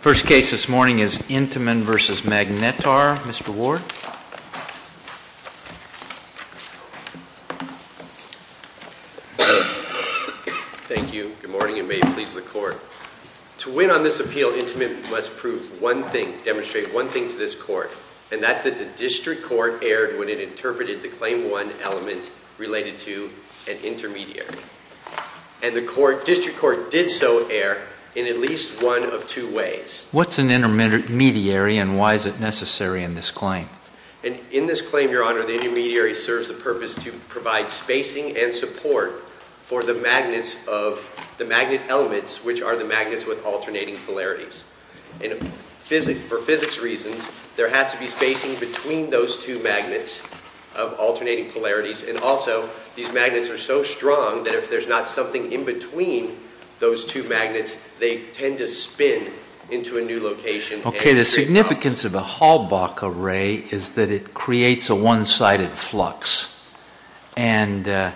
First case this morning is Intamin v. Magnetar. Mr. Ward. Thank you. Good morning and may it please the court. To win on this appeal Intamin must prove one thing, demonstrate one thing to this court. And that's that the district court erred when it interpreted the claim one element related to an intermediary. And the court, district court did so err in at least one of two ways. What's an intermediary and why is it necessary in this claim? In this claim, your honor, the intermediary serves the purpose to provide spacing and support for the magnets of the magnet elements which are the magnets with alternating polarities. For physics reasons there has to be spacing between those two magnets of alternating polarities and also these magnets are so strong that if there's not something in between those two magnets they tend to spin into a new location. Okay. The significance of a Halbach array is that it creates a one-sided flux. And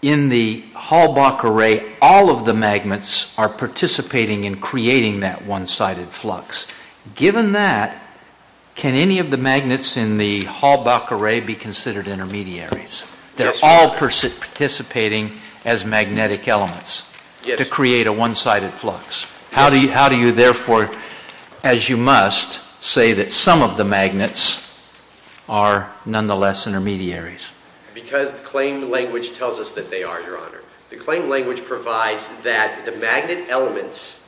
in the Halbach array all of the magnets are participating in creating that one-sided flux. Given that, can any of the magnets in the Halbach array be considered intermediaries? They're all participating as magnetic elements to create a one-sided flux. How do you therefore, as you must, say that some of the magnets are nonetheless intermediaries? Because the claim language tells us that they are, your honor. The claim language provides that the magnet elements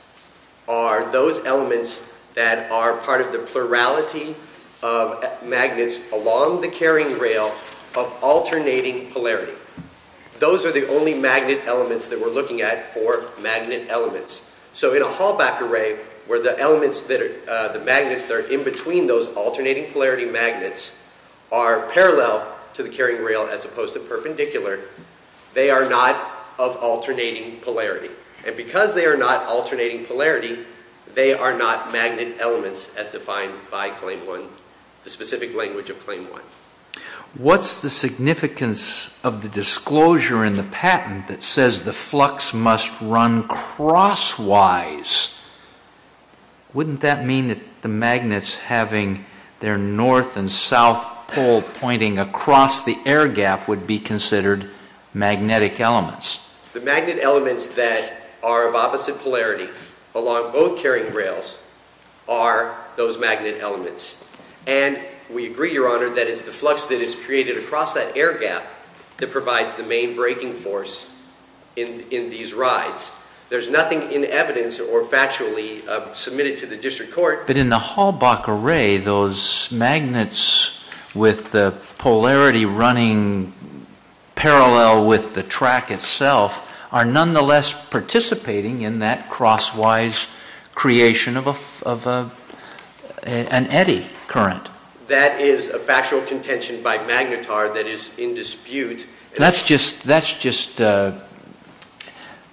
are those elements that are part of the plurality of magnets along the carrying rail of alternating polarity. Those are the only magnet elements that we're looking at for magnet elements. So, in a Halbach array where the elements that are, the magnets that are in between those alternating polarity magnets are parallel to the carrying rail as opposed to perpendicular, they are not of alternating polarity. And because they are not alternating polarity, they are not magnet elements as defined by Claim 1, the specific language of Claim 1. What's the significance of the disclosure in the patent that says the flux must run crosswise? Wouldn't that mean that the magnets having their north and south pole pointing across the air gap would be considered magnetic elements? The magnet elements that are of opposite polarity along both carrying rails are those magnet elements. And we agree, your honor, that it's the flux that is created across that air gap that provides the main breaking force in these rides. There's nothing in evidence or factually submitted to the district court. But in the Halbach array, those magnets with the polarity running parallel with the track itself are nonetheless participating in that crosswise creation of an eddy current. That is a factual contention by Magnetar that is in dispute. That's just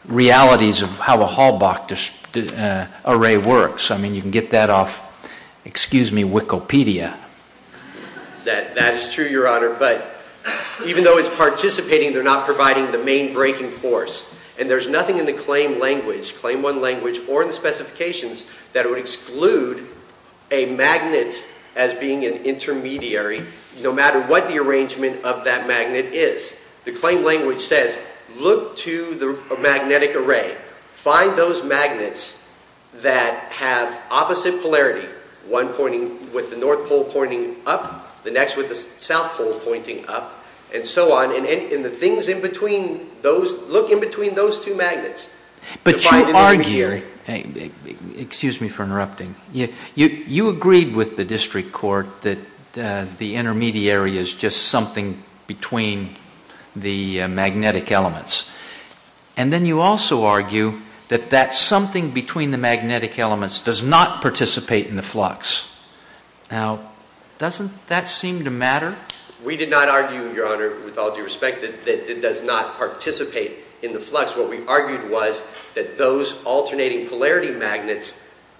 realities of how a Halbach array works. I mean, you can get that off, excuse me, Wikipedia. That is true, your honor. But even though it's participating, they're not providing the main breaking force. And there's nothing in the Claim language, Claim 1 language, or in the specifications that would exclude a magnet as being an intermediary, no matter what the arrangement of that magnet is. The Claim language says, look to the magnetic array. Find those magnets that have opposite polarity, one pointing with the north pole pointing up, the next with the south pole pointing up, and so on. And the things in between those, look in between those two magnets. But you argue, excuse me for interrupting, you agreed with the district court that the the magnetic elements. And then you also argue that that something between the magnetic elements does not participate in the flux. Now, doesn't that seem to matter? We did not argue, your honor, with all due respect, that it does not participate in the flux. What we argued was that those alternating polarity magnets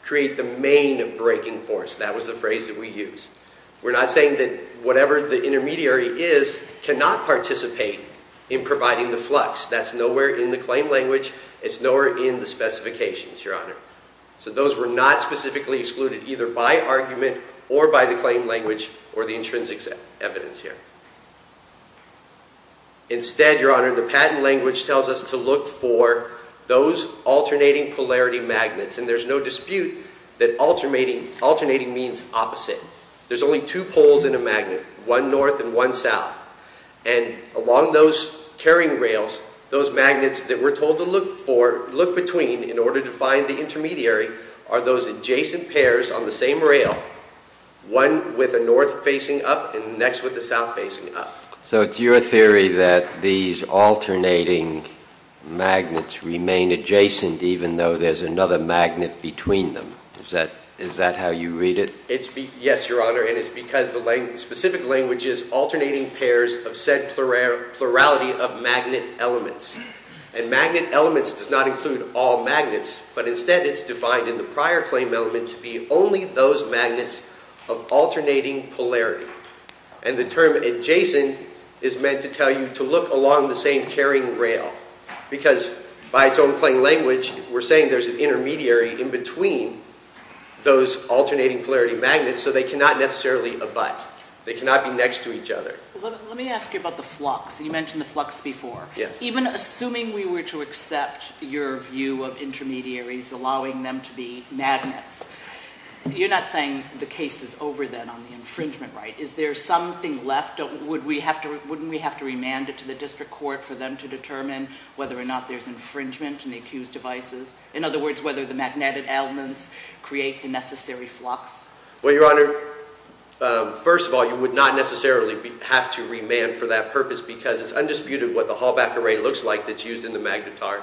create the main breaking force. That was the phrase that we used. We're not saying that whatever the intermediary is cannot participate in providing the flux. That's nowhere in the Claim language. It's nowhere in the specifications, your honor. So those were not specifically excluded either by argument or by the Claim language or the intrinsic evidence here. Instead, your honor, the Patent language tells us to look for those alternating polarity magnets. And there's no dispute that alternating means opposite. There's only two poles in a magnet, one north and one south. And along those carrying rails, those magnets that we're told to look for, look between in order to find the intermediary, are those adjacent pairs on the same rail, one with a north facing up and the next with the south facing up. So it's your theory that these alternating magnets remain adjacent even though there's another magnet between them. Is that how you read it? Yes, your honor. And it's because the specific language is alternating pairs of said plurality of magnet elements. And magnet elements does not include all magnets, but instead it's defined in the prior Claim element to be only those magnets of alternating polarity. And the term adjacent is meant to tell you to look along the same carrying rail. Because by its own Claim language, we're saying there's an intermediary in between those alternating polarity magnets, so they cannot necessarily abut. They cannot be next to each other. Let me ask you about the flux. You mentioned the flux before. Even assuming we were to accept your view of intermediaries allowing them to be magnets, you're not saying the case is over then on the infringement, right? Is there something left? Wouldn't we have to remand it to the district court for them to determine whether or not there's infringement in the accused devices? In other words, whether the magnetic elements create the necessary flux? Well, your honor, first of all, you would not necessarily have to remand for that purpose because it's undisputed what the Hall-Back Array looks like that's used in the Magnetar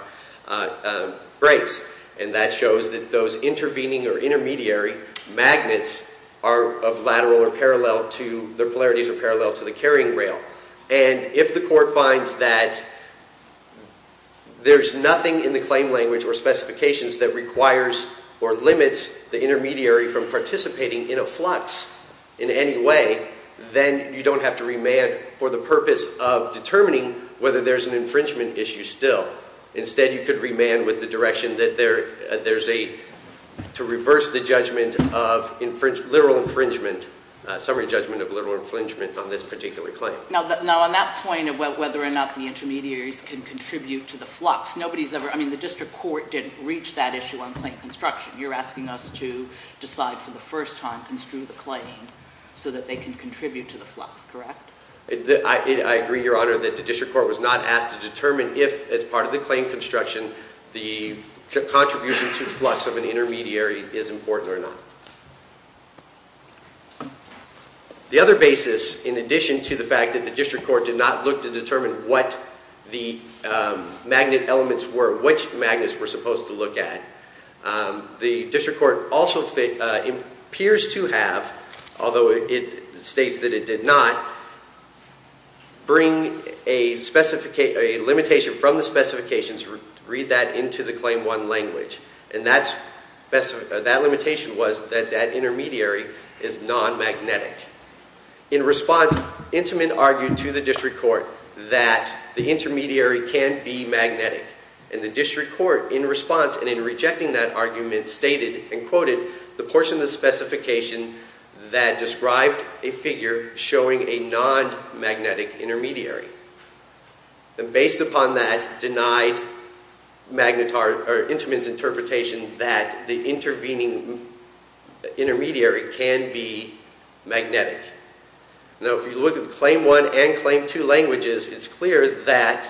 breaks. And that shows that those intervening or intermediary magnets are of lateral or their polarities are parallel to the carrying rail. And if the court finds that there's nothing in the claim language or specifications that requires or limits the intermediary from participating in a flux in any way, then you don't have to remand for the purpose of determining whether there's an infringement issue still. Instead, you could remand with the direction that there's a, To reverse the judgment of literal infringement, summary judgment of literal infringement on this particular claim. Now on that point of whether or not the intermediaries can contribute to the flux, nobody's ever, I mean, the district court didn't reach that issue on claim construction. You're asking us to decide for the first time, construe the claim so that they can contribute to the flux, correct? I agree, your honor, that the district court was not asked to determine if, as part of the claim construction, the contribution to the flux of an intermediary is important or not. The other basis, in addition to the fact that the district court did not look to determine what the magnet elements were, which magnets were supposed to look at. The district court also appears to have, although it states that it did not, Bring a limitation from the specifications, read that into the claim one language. And that limitation was that that intermediary is non-magnetic. In response, Intamin argued to the district court that the intermediary can be magnetic. And the district court, in response and in rejecting that argument, stated and quoted the portion of the specification that described a figure showing a non-magnetic intermediary. And based upon that, denied Intamin's interpretation that the intervening intermediary can be magnetic. Now if you look at the claim one and claim two languages, it's clear that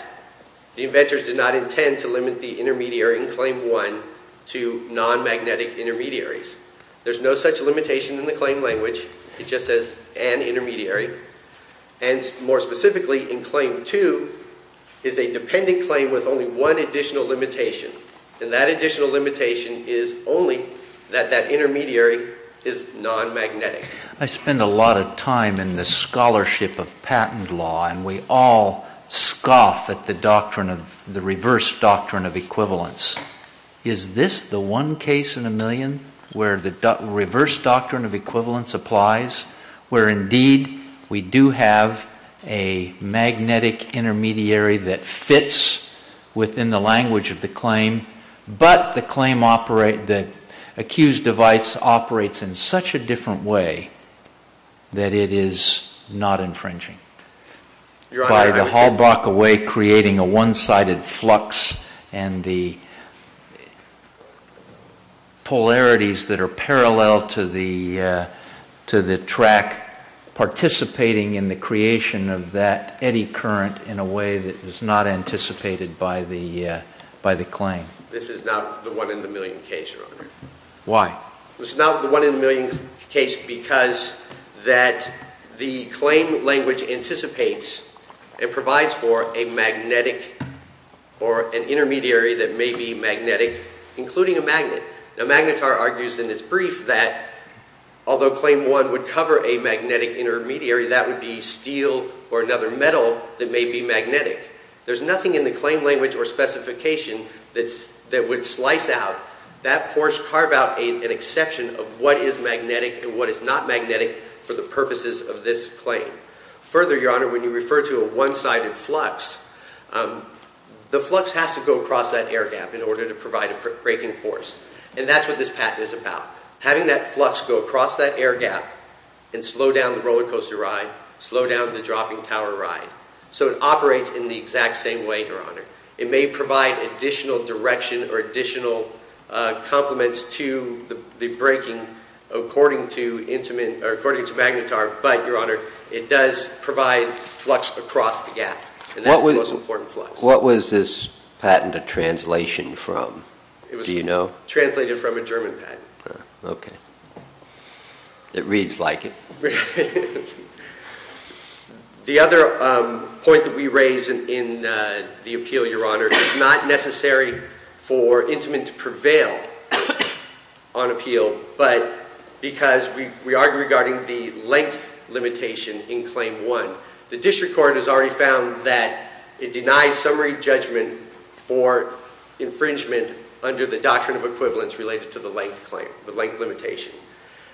the inventors did not intend to limit the intermediary in claim one to non-magnetic intermediaries. There's no such limitation in the claim language, it just says an intermediary. And more specifically, in claim two, is a dependent claim with only one additional limitation. And that additional limitation is only that that intermediary is non-magnetic. I spend a lot of time in the scholarship of patent law, and we all scoff at the reverse doctrine of equivalence. Is this the one case in a million where the reverse doctrine of equivalence applies? Where indeed, we do have a magnetic intermediary that fits within the language of the claim. But the accused device operates in such a different way that it is not infringing. Your Honor, I would say- By the Hallbrock away, creating a one-sided flux, and the polarities that are parallel to the track. Participating in the creation of that eddy current in a way that was not anticipated by the claim. This is not the one in the million case, Your Honor. Why? It's not the one in the million case because that the claim language anticipates and provides for a magnetic or an intermediary that may be magnetic, including a magnet. Now, Magnitar argues in his brief that although claim one would cover a magnetic intermediary, that would be steel or another metal that may be magnetic. There's nothing in the claim language or specification that would slice out. That pours carve out an exception of what is magnetic and what is not magnetic for the purposes of this claim. Further, Your Honor, when you refer to a one-sided flux, the flux has to go across that air gap in order to provide a breaking force. And that's what this patent is about. Having that flux go across that air gap and slow down the roller coaster ride, slow down the dropping tower ride. So it operates in the exact same way, Your Honor. It may provide additional direction or additional complements to the breaking according to Magnitar, but, Your Honor, it does provide flux across the gap, and that's the most important flux. What was this patent a translation from? Do you know? Translated from a German patent. Okay. It reads like it. The other point that we raise in the appeal, Your Honor, is not necessary for intimate to prevail on appeal, but because we argue regarding the length limitation in claim one. The district court has already found that it denies summary judgment for infringement under the doctrine of equivalence related to the length limitation.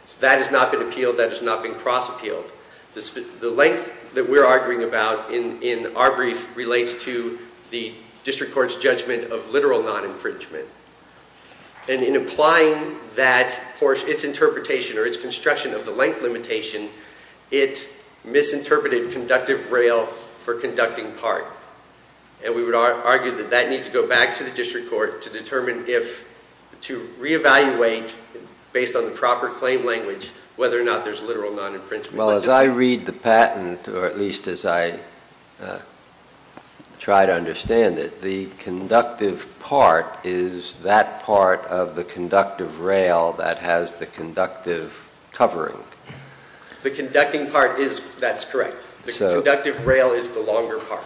So that has not been appealed, that has not been cross appealed. The length that we're arguing about in our brief relates to the district court's judgment of literal non-infringement. And in applying that portion, its interpretation or its construction of the length limitation, it misinterpreted conductive rail for conducting part. And we would argue that that needs to go back to the district court to determine if, to reevaluate based on the proper claim language, whether or not there's literal non-infringement. Well, as I read the patent, or at least as I try to understand it, the conductive part is that part of the conductive rail that has the conductive covering. The conducting part is, that's correct. The conductive rail is the longer part.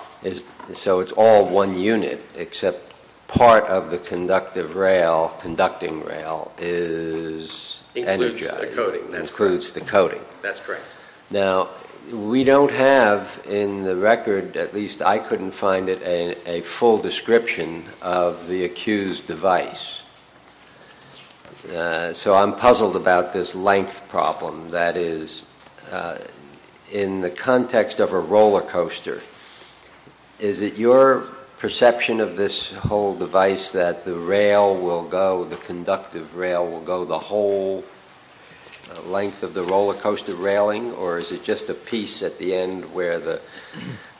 So it's all one unit, except part of the conductive rail, conducting rail, is- Includes the coding, that's correct. Includes the coding. That's correct. Now, we don't have in the record, at least I couldn't find it, a full description of the accused device. So I'm puzzled about this length problem. That is, in the context of a roller coaster, is it your perception of this whole device that the rail will go, the conductive rail will go the whole length of the roller coaster railing? Or is it just a piece at the end where the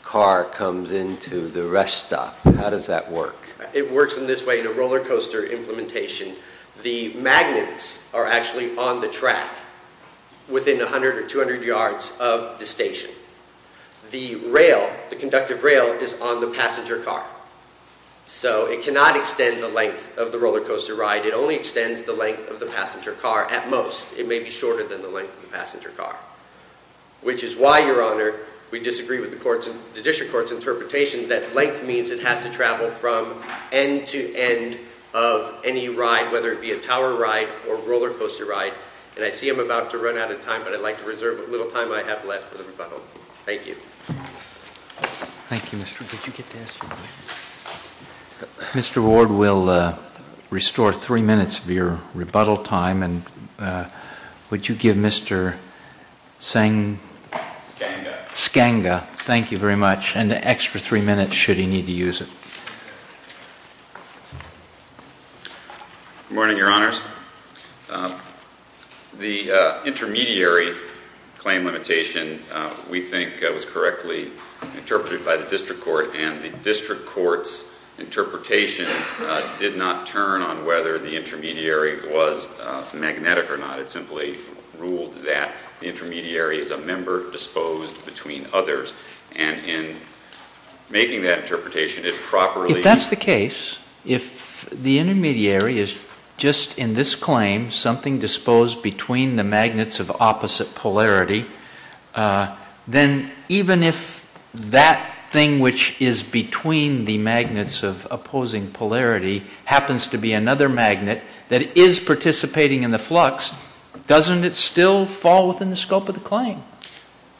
car comes into the rest stop? How does that work? It works in this way, in a roller coaster implementation. The magnets are actually on the track within 100 or 200 yards of the station. The rail, the conductive rail, is on the passenger car. So it cannot extend the length of the roller coaster ride. It only extends the length of the passenger car at most. It may be shorter than the length of the passenger car. Which is why, your honor, we disagree with the district court's interpretation that length means it has to travel from end to end of any ride, whether it be a tower ride or roller coaster ride. And I see I'm about to run out of time, but I'd like to reserve a little time I have left for the rebuttal. Thank you. Thank you, Mr. Good, you get to ask your question. Mr. Ward, we'll restore three minutes of your rebuttal time. And would you give Mr. Senga, thank you very much. An extra three minutes should he need to use it. Good morning, your honors. The intermediary claim limitation, we think, was correctly interpreted by the district court and the district court's interpretation did not turn on whether the intermediary was magnetic or not. It simply ruled that the intermediary is a member disposed between others. And in making that interpretation, it properly- If that's the case, if the intermediary is just in this claim, something disposed between the magnets of opposite polarity, then even if that thing which is between the magnets of opposing polarity happens to be another magnet that is participating in the flux, doesn't it still fall within the scope of the claim?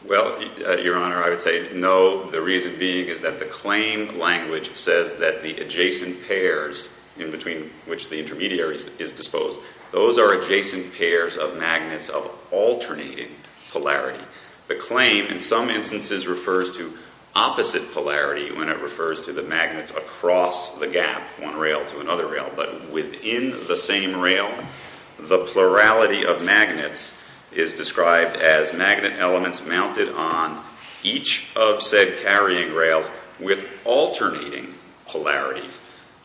Well, your honor, I would say no. The reason being is that the claim language says that the adjacent pairs in between which the intermediary is disposed, those are adjacent pairs of magnets of alternating polarity. The claim, in some instances, refers to opposite polarity when it refers to the magnets across the gap, one rail to another rail. But within the same rail, the plurality of magnets is described as magnet elements mounted on each of said carrying rails with alternating polarities.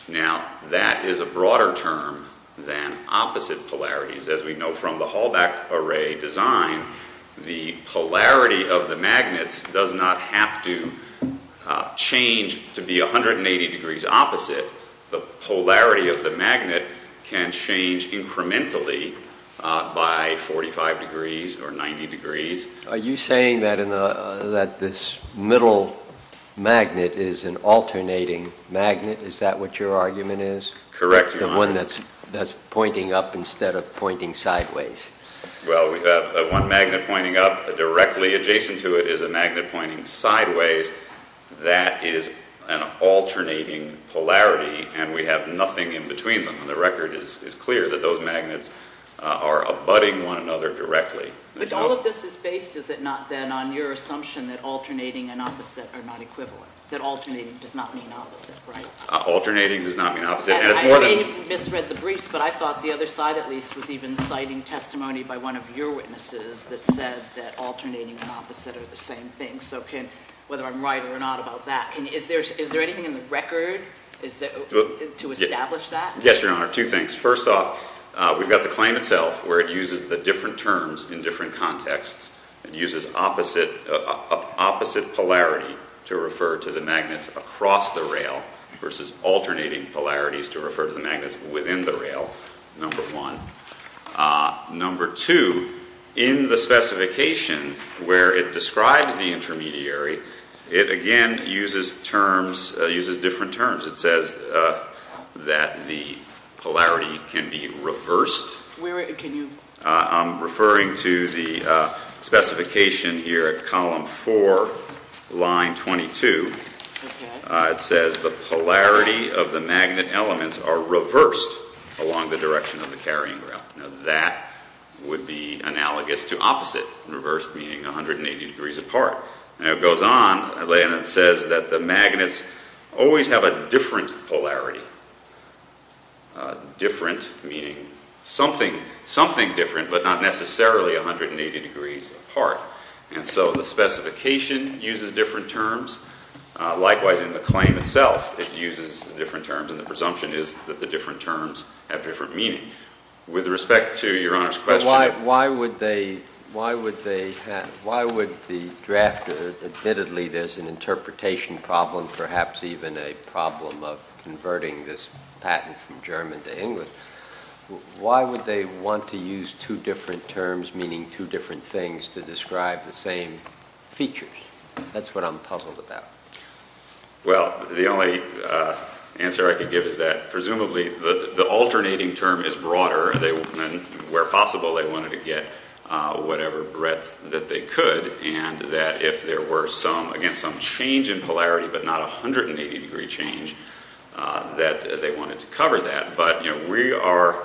Now, that is a broader term than opposite polarities. As we know from the Hallback array design, the polarity of the magnets does not have to change to be 180 degrees opposite. The polarity of the magnet can change incrementally by 45 degrees or 90 degrees. Are you saying that this middle magnet is an alternating magnet? Is that what your argument is? Correct, your honor. The one that's pointing up instead of pointing sideways. Well, we have one magnet pointing up directly adjacent to it is a magnet pointing sideways. That is an alternating polarity, and we have nothing in between them. And the record is clear that those magnets are abutting one another directly. But all of this is based, is it not, then, on your assumption that alternating and opposite are not equivalent? That alternating does not mean opposite, right? Alternating does not mean opposite, and it's more than- I may have misread the briefs, but I thought the other side, at least, was even citing testimony by one of your witnesses that said that alternating and opposite are the same thing. So whether I'm right or not about that, is there anything in the record to establish that? Yes, your honor, two things. First off, we've got the claim itself, where it uses the different terms in different contexts. It uses opposite polarity to refer to the magnets across the rail versus alternating polarities to refer to the magnets within the rail, number one. Number two, in the specification where it describes the intermediary, it again uses terms, uses different terms. It says that the polarity can be reversed. Where, can you- I'm referring to the specification here at column four, line 22. Okay. It says the polarity of the magnet elements are reversed along the direction of the carrying rail. That would be analogous to opposite and reversed, meaning 180 degrees apart. And it goes on, and it says that the magnets always have a different polarity. Different meaning something different, but not necessarily 180 degrees apart. And so the specification uses different terms. Likewise, in the claim itself, it uses different terms, and the presumption is that the different terms have different meaning. With respect to your honor's question- Why would the drafter, admittedly there's an interpretation problem, perhaps even a problem of converting this patent from German to English. Why would they want to use two different terms, meaning two different things, to describe the same features? That's what I'm puzzled about. Well, the only answer I could give is that, presumably, the alternating term is broader. They, where possible, they wanted to get whatever breadth that they could. And that if there were some, again, some change in polarity, but not 180 degree change, that they wanted to cover that. But, you know, we are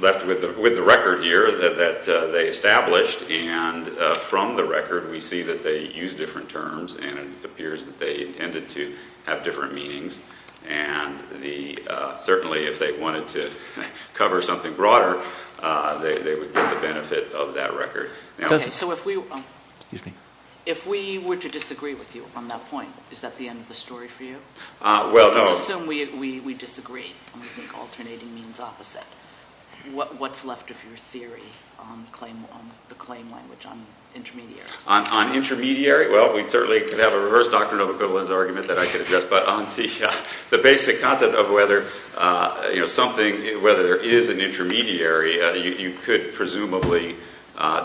left with the record here that they established. And from the record, we see that they use different terms, and it appears that they intended to have different meanings. And certainly, if they wanted to cover something broader, they would get the benefit of that record. Now- So if we were to disagree with you on that point, is that the end of the story for you? Well, no. Let's assume we disagree, and we think alternating means opposite. What's left of your theory on the claim language on intermediaries? On intermediary? Well, we certainly could have a reverse Doctrine of Equivalence argument that I could address. But on the basic concept of whether, you know, something, whether there is an intermediary, you could presumably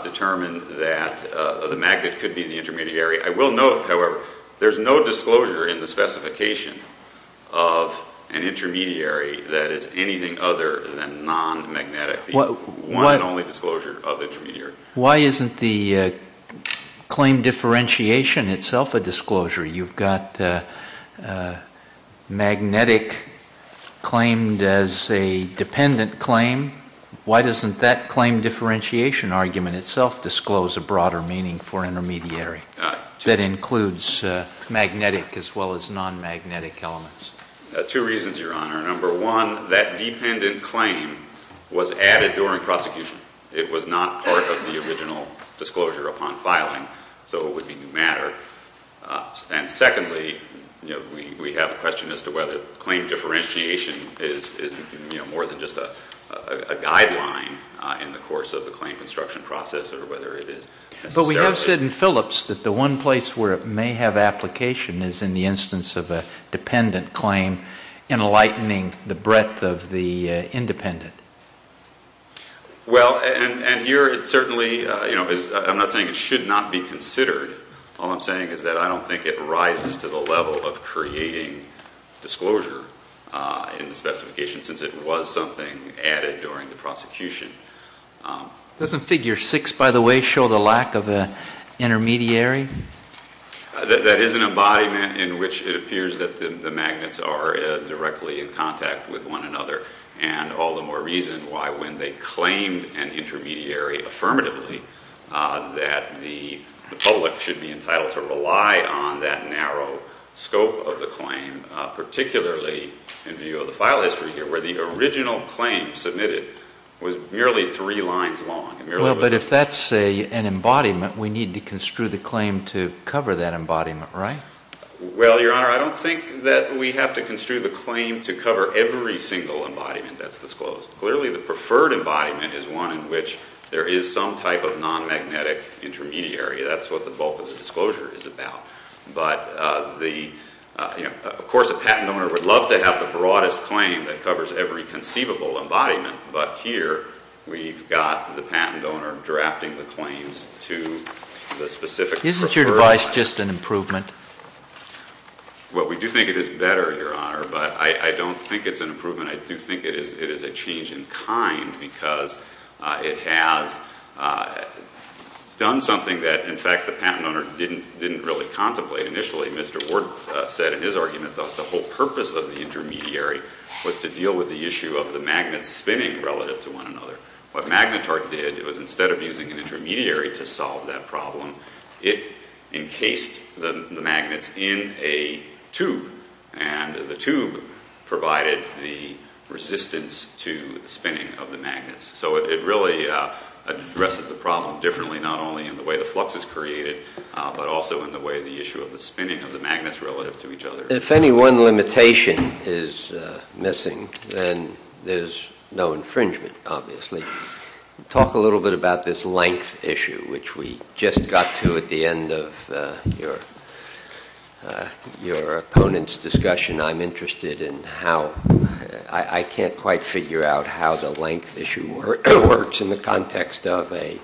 determine that the magnet could be the intermediary. I will note, however, there's no disclosure in the specification of an intermediary that is anything other than non-magnetic. The one and only disclosure of intermediary. Why isn't the claim differentiation itself a disclosure? You've got magnetic claimed as a dependent claim. Why doesn't that claim differentiation argument itself disclose a broader meaning for intermediary? That includes magnetic as well as non-magnetic elements. Two reasons, Your Honor. Number one, that dependent claim was added during prosecution. It was not part of the original disclosure upon filing, so it would be new matter. And secondly, we have a question as to whether claim differentiation is more than just a guideline in the course of the claim construction process, or whether it is necessarily- I have said in Phillips that the one place where it may have application is in the instance of a dependent claim, enlightening the breadth of the independent. Well, and here it certainly, you know, I'm not saying it should not be considered. All I'm saying is that I don't think it rises to the level of creating disclosure in the specification, since it was something added during the prosecution. Doesn't figure six, by the way, show the lack of an intermediary? That is an embodiment in which it appears that the magnets are directly in contact with one another, and all the more reason why when they claimed an intermediary affirmatively that the public should be entitled to rely on that narrow scope of the claim, particularly in view of the file history here, where the original claim submitted was merely three lines long. Well, but if that's an embodiment, we need to construe the claim to cover that embodiment, right? Well, Your Honor, I don't think that we have to construe the claim to cover every single embodiment that's disclosed. Clearly, the preferred embodiment is one in which there is some type of non-magnetic intermediary. That's what the bulk of the disclosure is about. But of course, a patent owner would love to have the broadest claim that covers every conceivable embodiment. But here, we've got the patent owner drafting the claims to the specific preferred. Isn't your device just an improvement? Well, we do think it is better, Your Honor, but I don't think it's an improvement. I do think it is a change in kind because it has done something that, in fact, the patent owner didn't really contemplate initially. Mr. Ward said in his argument that the whole purpose of the intermediary was to deal with the issue of the magnets spinning relative to one another. What Magnetart did, it was instead of using an intermediary to solve that problem, it encased the magnets in a tube. And the tube provided the resistance to the spinning of the magnets. So it really addresses the problem differently, not only in the way the flux is created, but also in the way the issue of the spinning of the magnets relative to each other. If any one limitation is missing, then there's no infringement, obviously. Talk a little bit about this length issue, which we just got to at the end of your opponent's discussion. I'm interested in how, I can't quite figure out how the length issue works in the context of a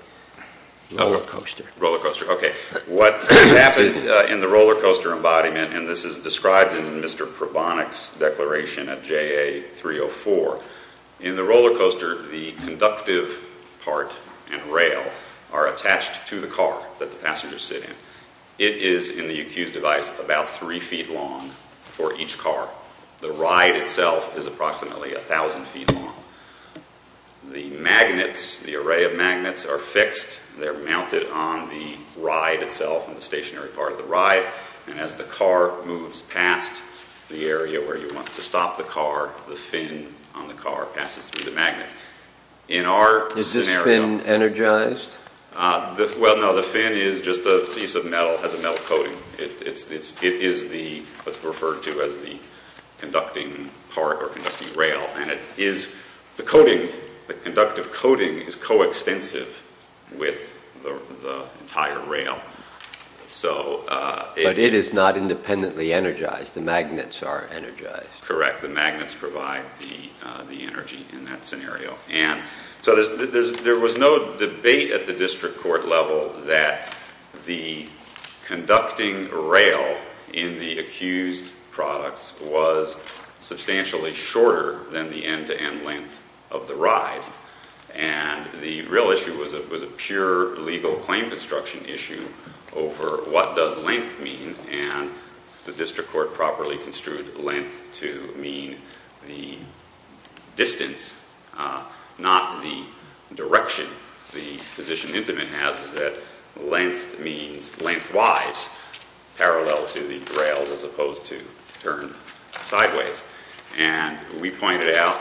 roller coaster. Roller coaster, okay. What happened in the roller coaster embodiment, and this is described in Mr. Conductive part and rail are attached to the car that the passengers sit in. It is, in the UQ's device, about three feet long for each car. The ride itself is approximately 1,000 feet long. The magnets, the array of magnets are fixed. They're mounted on the ride itself, on the stationary part of the ride. As the car moves past the area where you want to stop the car, the fin on the car passes through the magnets. In our scenario- Is this fin energized? Well, no. The fin is just a piece of metal. It has a metal coating. It is what's referred to as the conducting part or conducting rail. The coating, the conductive coating is coextensive with the entire rail. So- But it is not independently energized. The magnets are energized. Correct, the magnets provide the energy in that scenario. And so there was no debate at the district court level that the conducting rail in the accused products was substantially shorter than the end to end length of the ride. And the real issue was a pure legal claim construction issue over what does length mean. And the district court properly construed length to mean the distance, not the direction the position intimate has is that length means lengthwise, parallel to the rails as opposed to turn sideways. And we pointed out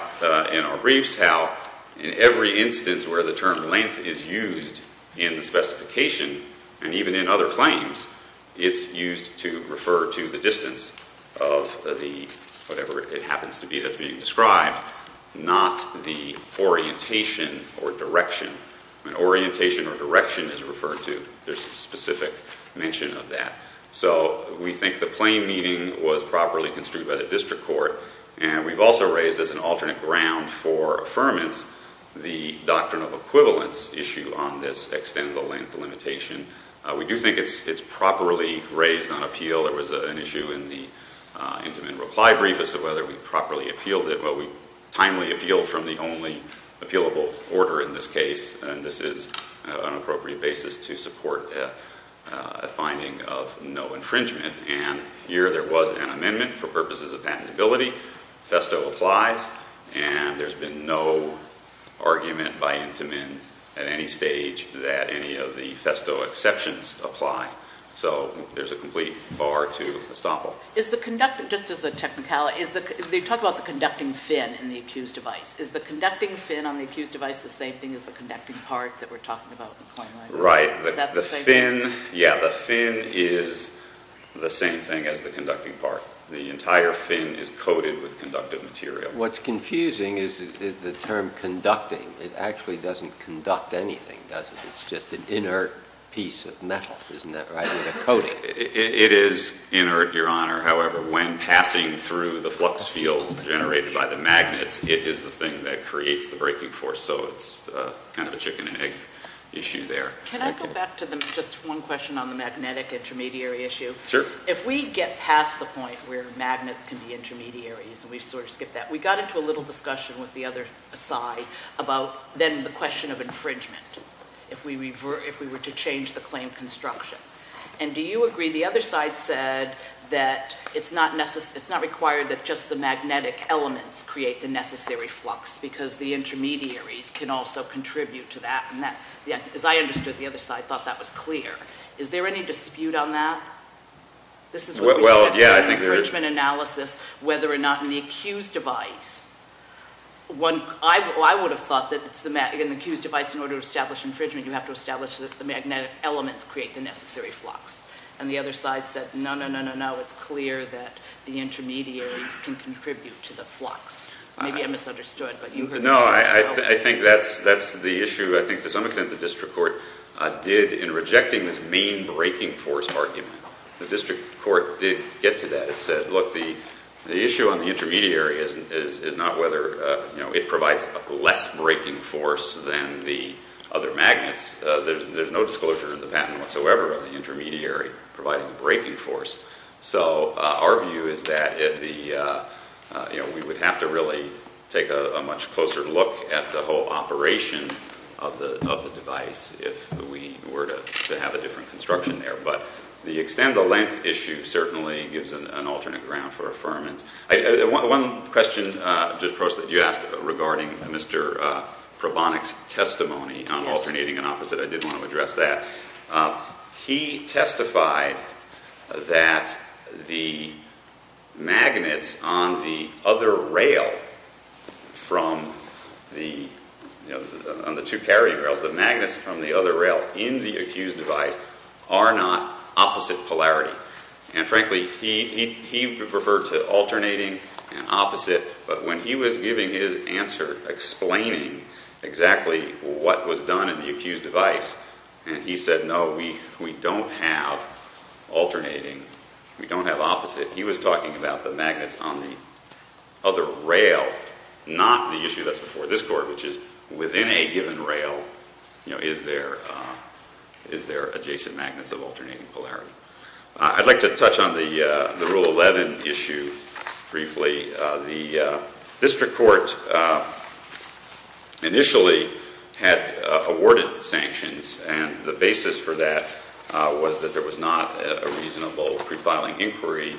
in our briefs how in every instance where the term length is used in the specification and even in other claims, it's used to refer to the distance of the whatever it happens to be that's being described, not the orientation or direction. And orientation or direction is referred to, there's a specific mention of that. So we think the plain meaning was properly construed by the district court. And we've also raised as an alternate ground for affirmance the doctrine of equivalence issue on this extend the length limitation. We do think it's properly raised on appeal. There was an issue in the intimate reply brief as to whether we properly appealed it. Well, we timely appealed from the only appealable order in this case. And this is an appropriate basis to support a finding of no infringement. And here there was an amendment for purposes of patentability. Festo applies, and there's been no argument by intimate at any stage that any of the festo exceptions apply. So there's a complete bar to estoppel. Is the conduct, just as a technicality, is the, they talk about the conducting fin in the accused device. Is the conducting fin on the accused device the same thing as the conducting part that we're talking about? Right, the fin, yeah, the fin is the same thing as the conducting part. The entire fin is coated with conductive material. What's confusing is the term conducting. It actually doesn't conduct anything, does it? It's just an inert piece of metal, isn't that right, with a coating? It is inert, your honor. However, when passing through the flux field generated by the magnets, it is the thing that creates the breaking force. So it's kind of a chicken and egg issue there. Can I go back to just one question on the magnetic intermediary issue? Sure. If we get past the point where magnets can be intermediaries, and we've sort of skipped that. We got into a little discussion with the other side about then the question of infringement. If we were to change the claim construction. And do you agree, the other side said that it's not required that just the magnetic elements create the necessary flux. Because the intermediaries can also contribute to that. And as I understood the other side, I thought that was clear. Is there any dispute on that? This is what we said- Well, yeah, I think there is. Infringement analysis, whether or not in the accused device. One, I would have thought that in the accused device in order to establish infringement you have to establish that the magnetic elements create the necessary flux. And the other side said, no, no, no, no, no, it's clear that the intermediaries can contribute to the flux. Maybe I misunderstood, but you heard the- No, I think that's the issue. I think to some extent the district court did in rejecting this main breaking force argument. The district court did get to that. It said, look, the issue on the intermediary is not whether it provides less breaking force than the other magnets. There's no disclosure in the patent whatsoever of the intermediary providing the breaking force. So our view is that we would have to really take a much closer look at the whole operation of the device if we were to have a different construction there. But the extent of the length issue certainly gives an alternate ground for affirmance. One question, Judge Prost, that you asked regarding Mr. Probonik's testimony on alternating and opposite. I did want to address that. He testified that the magnets on the other rail from the two carrying rails. The magnets from the other rail in the accused device are not opposite polarity. And frankly, he referred to alternating and opposite. But when he was giving his answer explaining exactly what was done in the accused device, and he said, no, we don't have alternating, we don't have opposite. He was talking about the magnets on the other rail, not the issue that's before this court, which is within a given rail, is there adjacent magnets of alternating polarity. I'd like to touch on the Rule 11 issue briefly. The district court initially had awarded sanctions. And the basis for that was that there was not a reasonable pre-filing inquiry.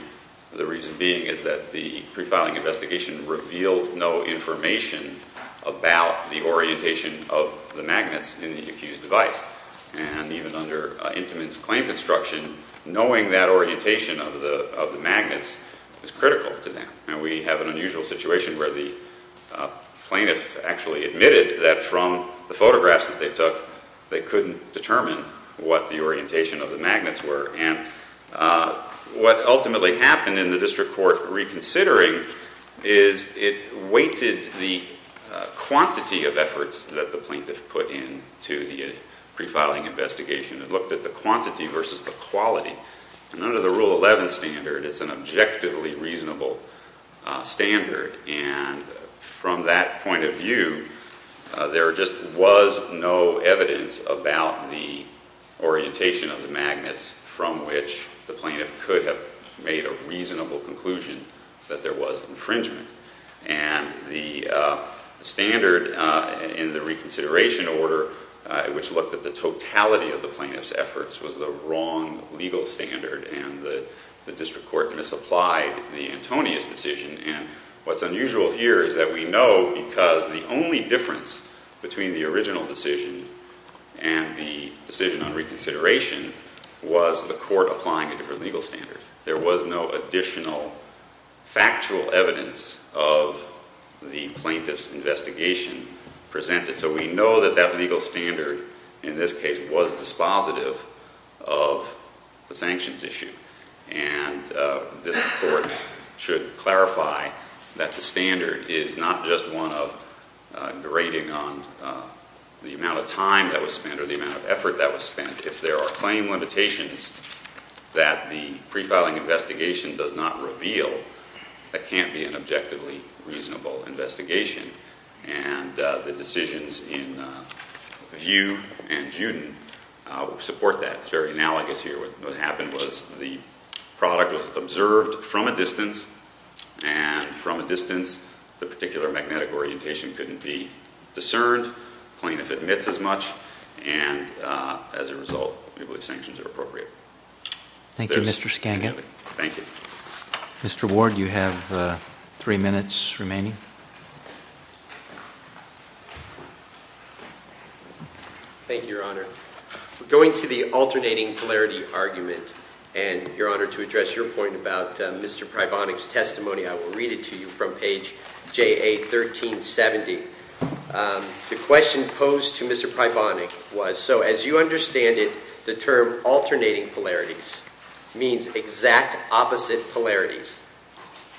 The reason being is that the pre-filing investigation revealed no information about the orientation of the magnets in the accused device. And even under Intimates Claim Construction, knowing that orientation of the magnets is critical to them. And we have an unusual situation where the plaintiff actually admitted that from the photographs that they took, they couldn't determine what the orientation of the magnets were. And what ultimately happened in the district court reconsidering is it weighted the quantity of efforts that the plaintiff put in to the pre-filing investigation and looked at the quantity versus the quality. And under the Rule 11 standard, it's an objectively reasonable standard. And from that point of view, there just was no evidence about the orientation of the magnets from which the plaintiff could have made a reasonable conclusion that there was infringement. And the standard in the reconsideration order, which looked at the totality of the plaintiff's efforts, was the wrong legal standard. And the district court misapplied the Antonius decision. And what's unusual here is that we know because the only difference between the original decision and the decision on reconsideration was the court applying a different legal standard. There was no additional factual evidence of the plaintiff's investigation presented. So we know that that legal standard in this case was dispositive of the sanctions issue. And this court should clarify that the standard is not just one of grading on the amount of time that was spent or the amount of effort that was spent. If there are claim limitations that the pre-filing investigation does not reveal, that can't be an objectively reasonable investigation. And the decisions in Vue and Juden support that. It's very analogous here. What happened was the product was observed from a distance. And from a distance, the particular magnetic orientation couldn't be discerned. The plaintiff admits as much. And as a result, we believe sanctions are appropriate. Thank you, Mr. Skanga. Thank you. Mr. Ward, you have three minutes remaining. Thank you, Your Honor. Going to the alternating polarity argument, and Your Honor, to address your point about Mr. Pribonik's testimony, I will read it to you from page JA1370. The question posed to Mr. Pribonik was, so as you understand it, the term alternating polarities means exact opposite polarities.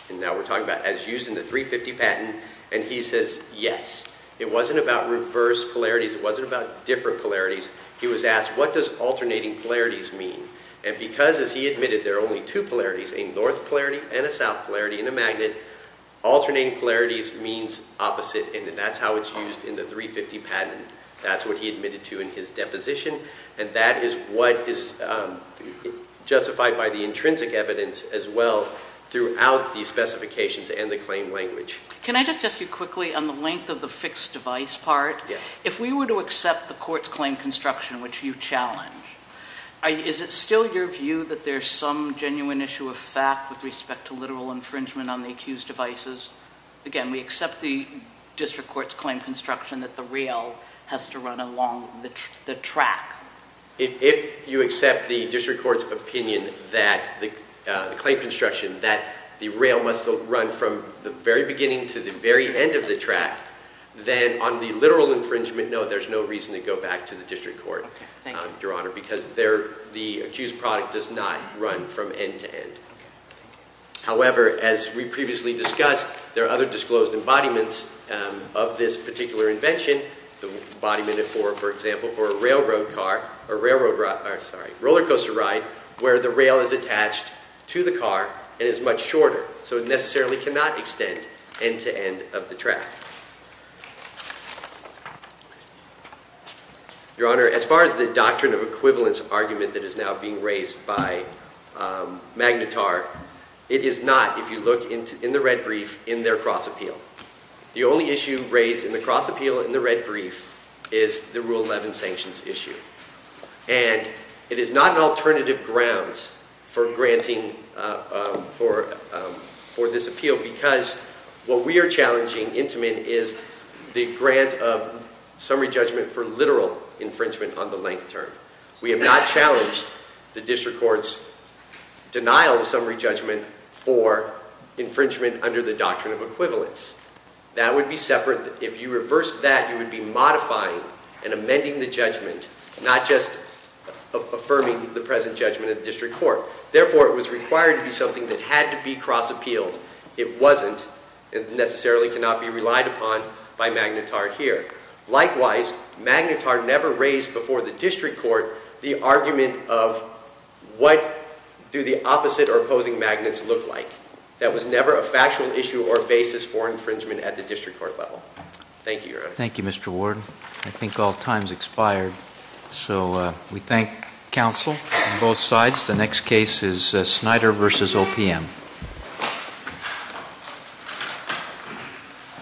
And now we're talking about as used in the 350 patent. And he says, yes. It wasn't about reverse polarities. It wasn't about different polarities. He was asked, what does alternating polarities mean? And because, as he admitted, there are only two polarities, a north polarity and a south polarity in a magnet, alternating polarities means opposite. And that's how it's used in the 350 patent. That's what he admitted to in his deposition. And that is what is justified by the intrinsic evidence as well throughout the specifications and the claim language. Can I just ask you quickly on the length of the fixed device part? Yes. If we were to accept the court's claim construction, which you challenge, is it still your view that there's some genuine issue of fact with respect to literal infringement on the accused devices? Again, we accept the district court's claim construction that the rail has to run along the track. If you accept the district court's opinion that the claim construction, that the rail must run from the very beginning to the very end of the track, then on the literal infringement, no, there's no reason to go back to the district court, Your Honor, because the accused product does not run from end to end. However, as we previously discussed, there are other disclosed embodiments of this particular invention, the embodiment, for example, for a railroad car, a roller coaster ride, where the rail is attached to the car and is much shorter. So it necessarily cannot extend end to end of the track. Your Honor, as far as the doctrine of equivalence argument that is now being raised by Magnetar, it is not, if you look in the red brief, in their cross-appeal. The only issue raised in the cross-appeal in the red brief is the Rule 11 sanctions issue. And it is not an alternative grounds for granting for this appeal, because what we are challenging, Intamin, is the grant of summary judgment for literal infringement on the length term. We have not challenged the district court's denial of summary judgment for infringement under the doctrine of equivalence. That would be separate. If you reversed that, you would be modifying and amending the judgment, not just affirming the present judgment of the district court. Therefore, it was required to be something that had to be cross-appealed. It wasn't and necessarily cannot be relied upon by Magnetar here. Likewise, Magnetar never raised before the district court the argument of what do the opposite or opposing magnets look like. That was never a factual issue or basis for infringement at the district court level. Thank you, Your Honor. Thank you, Mr. Ward. I think all time's expired. So we thank counsel on both sides. The next case is Snyder versus OPM.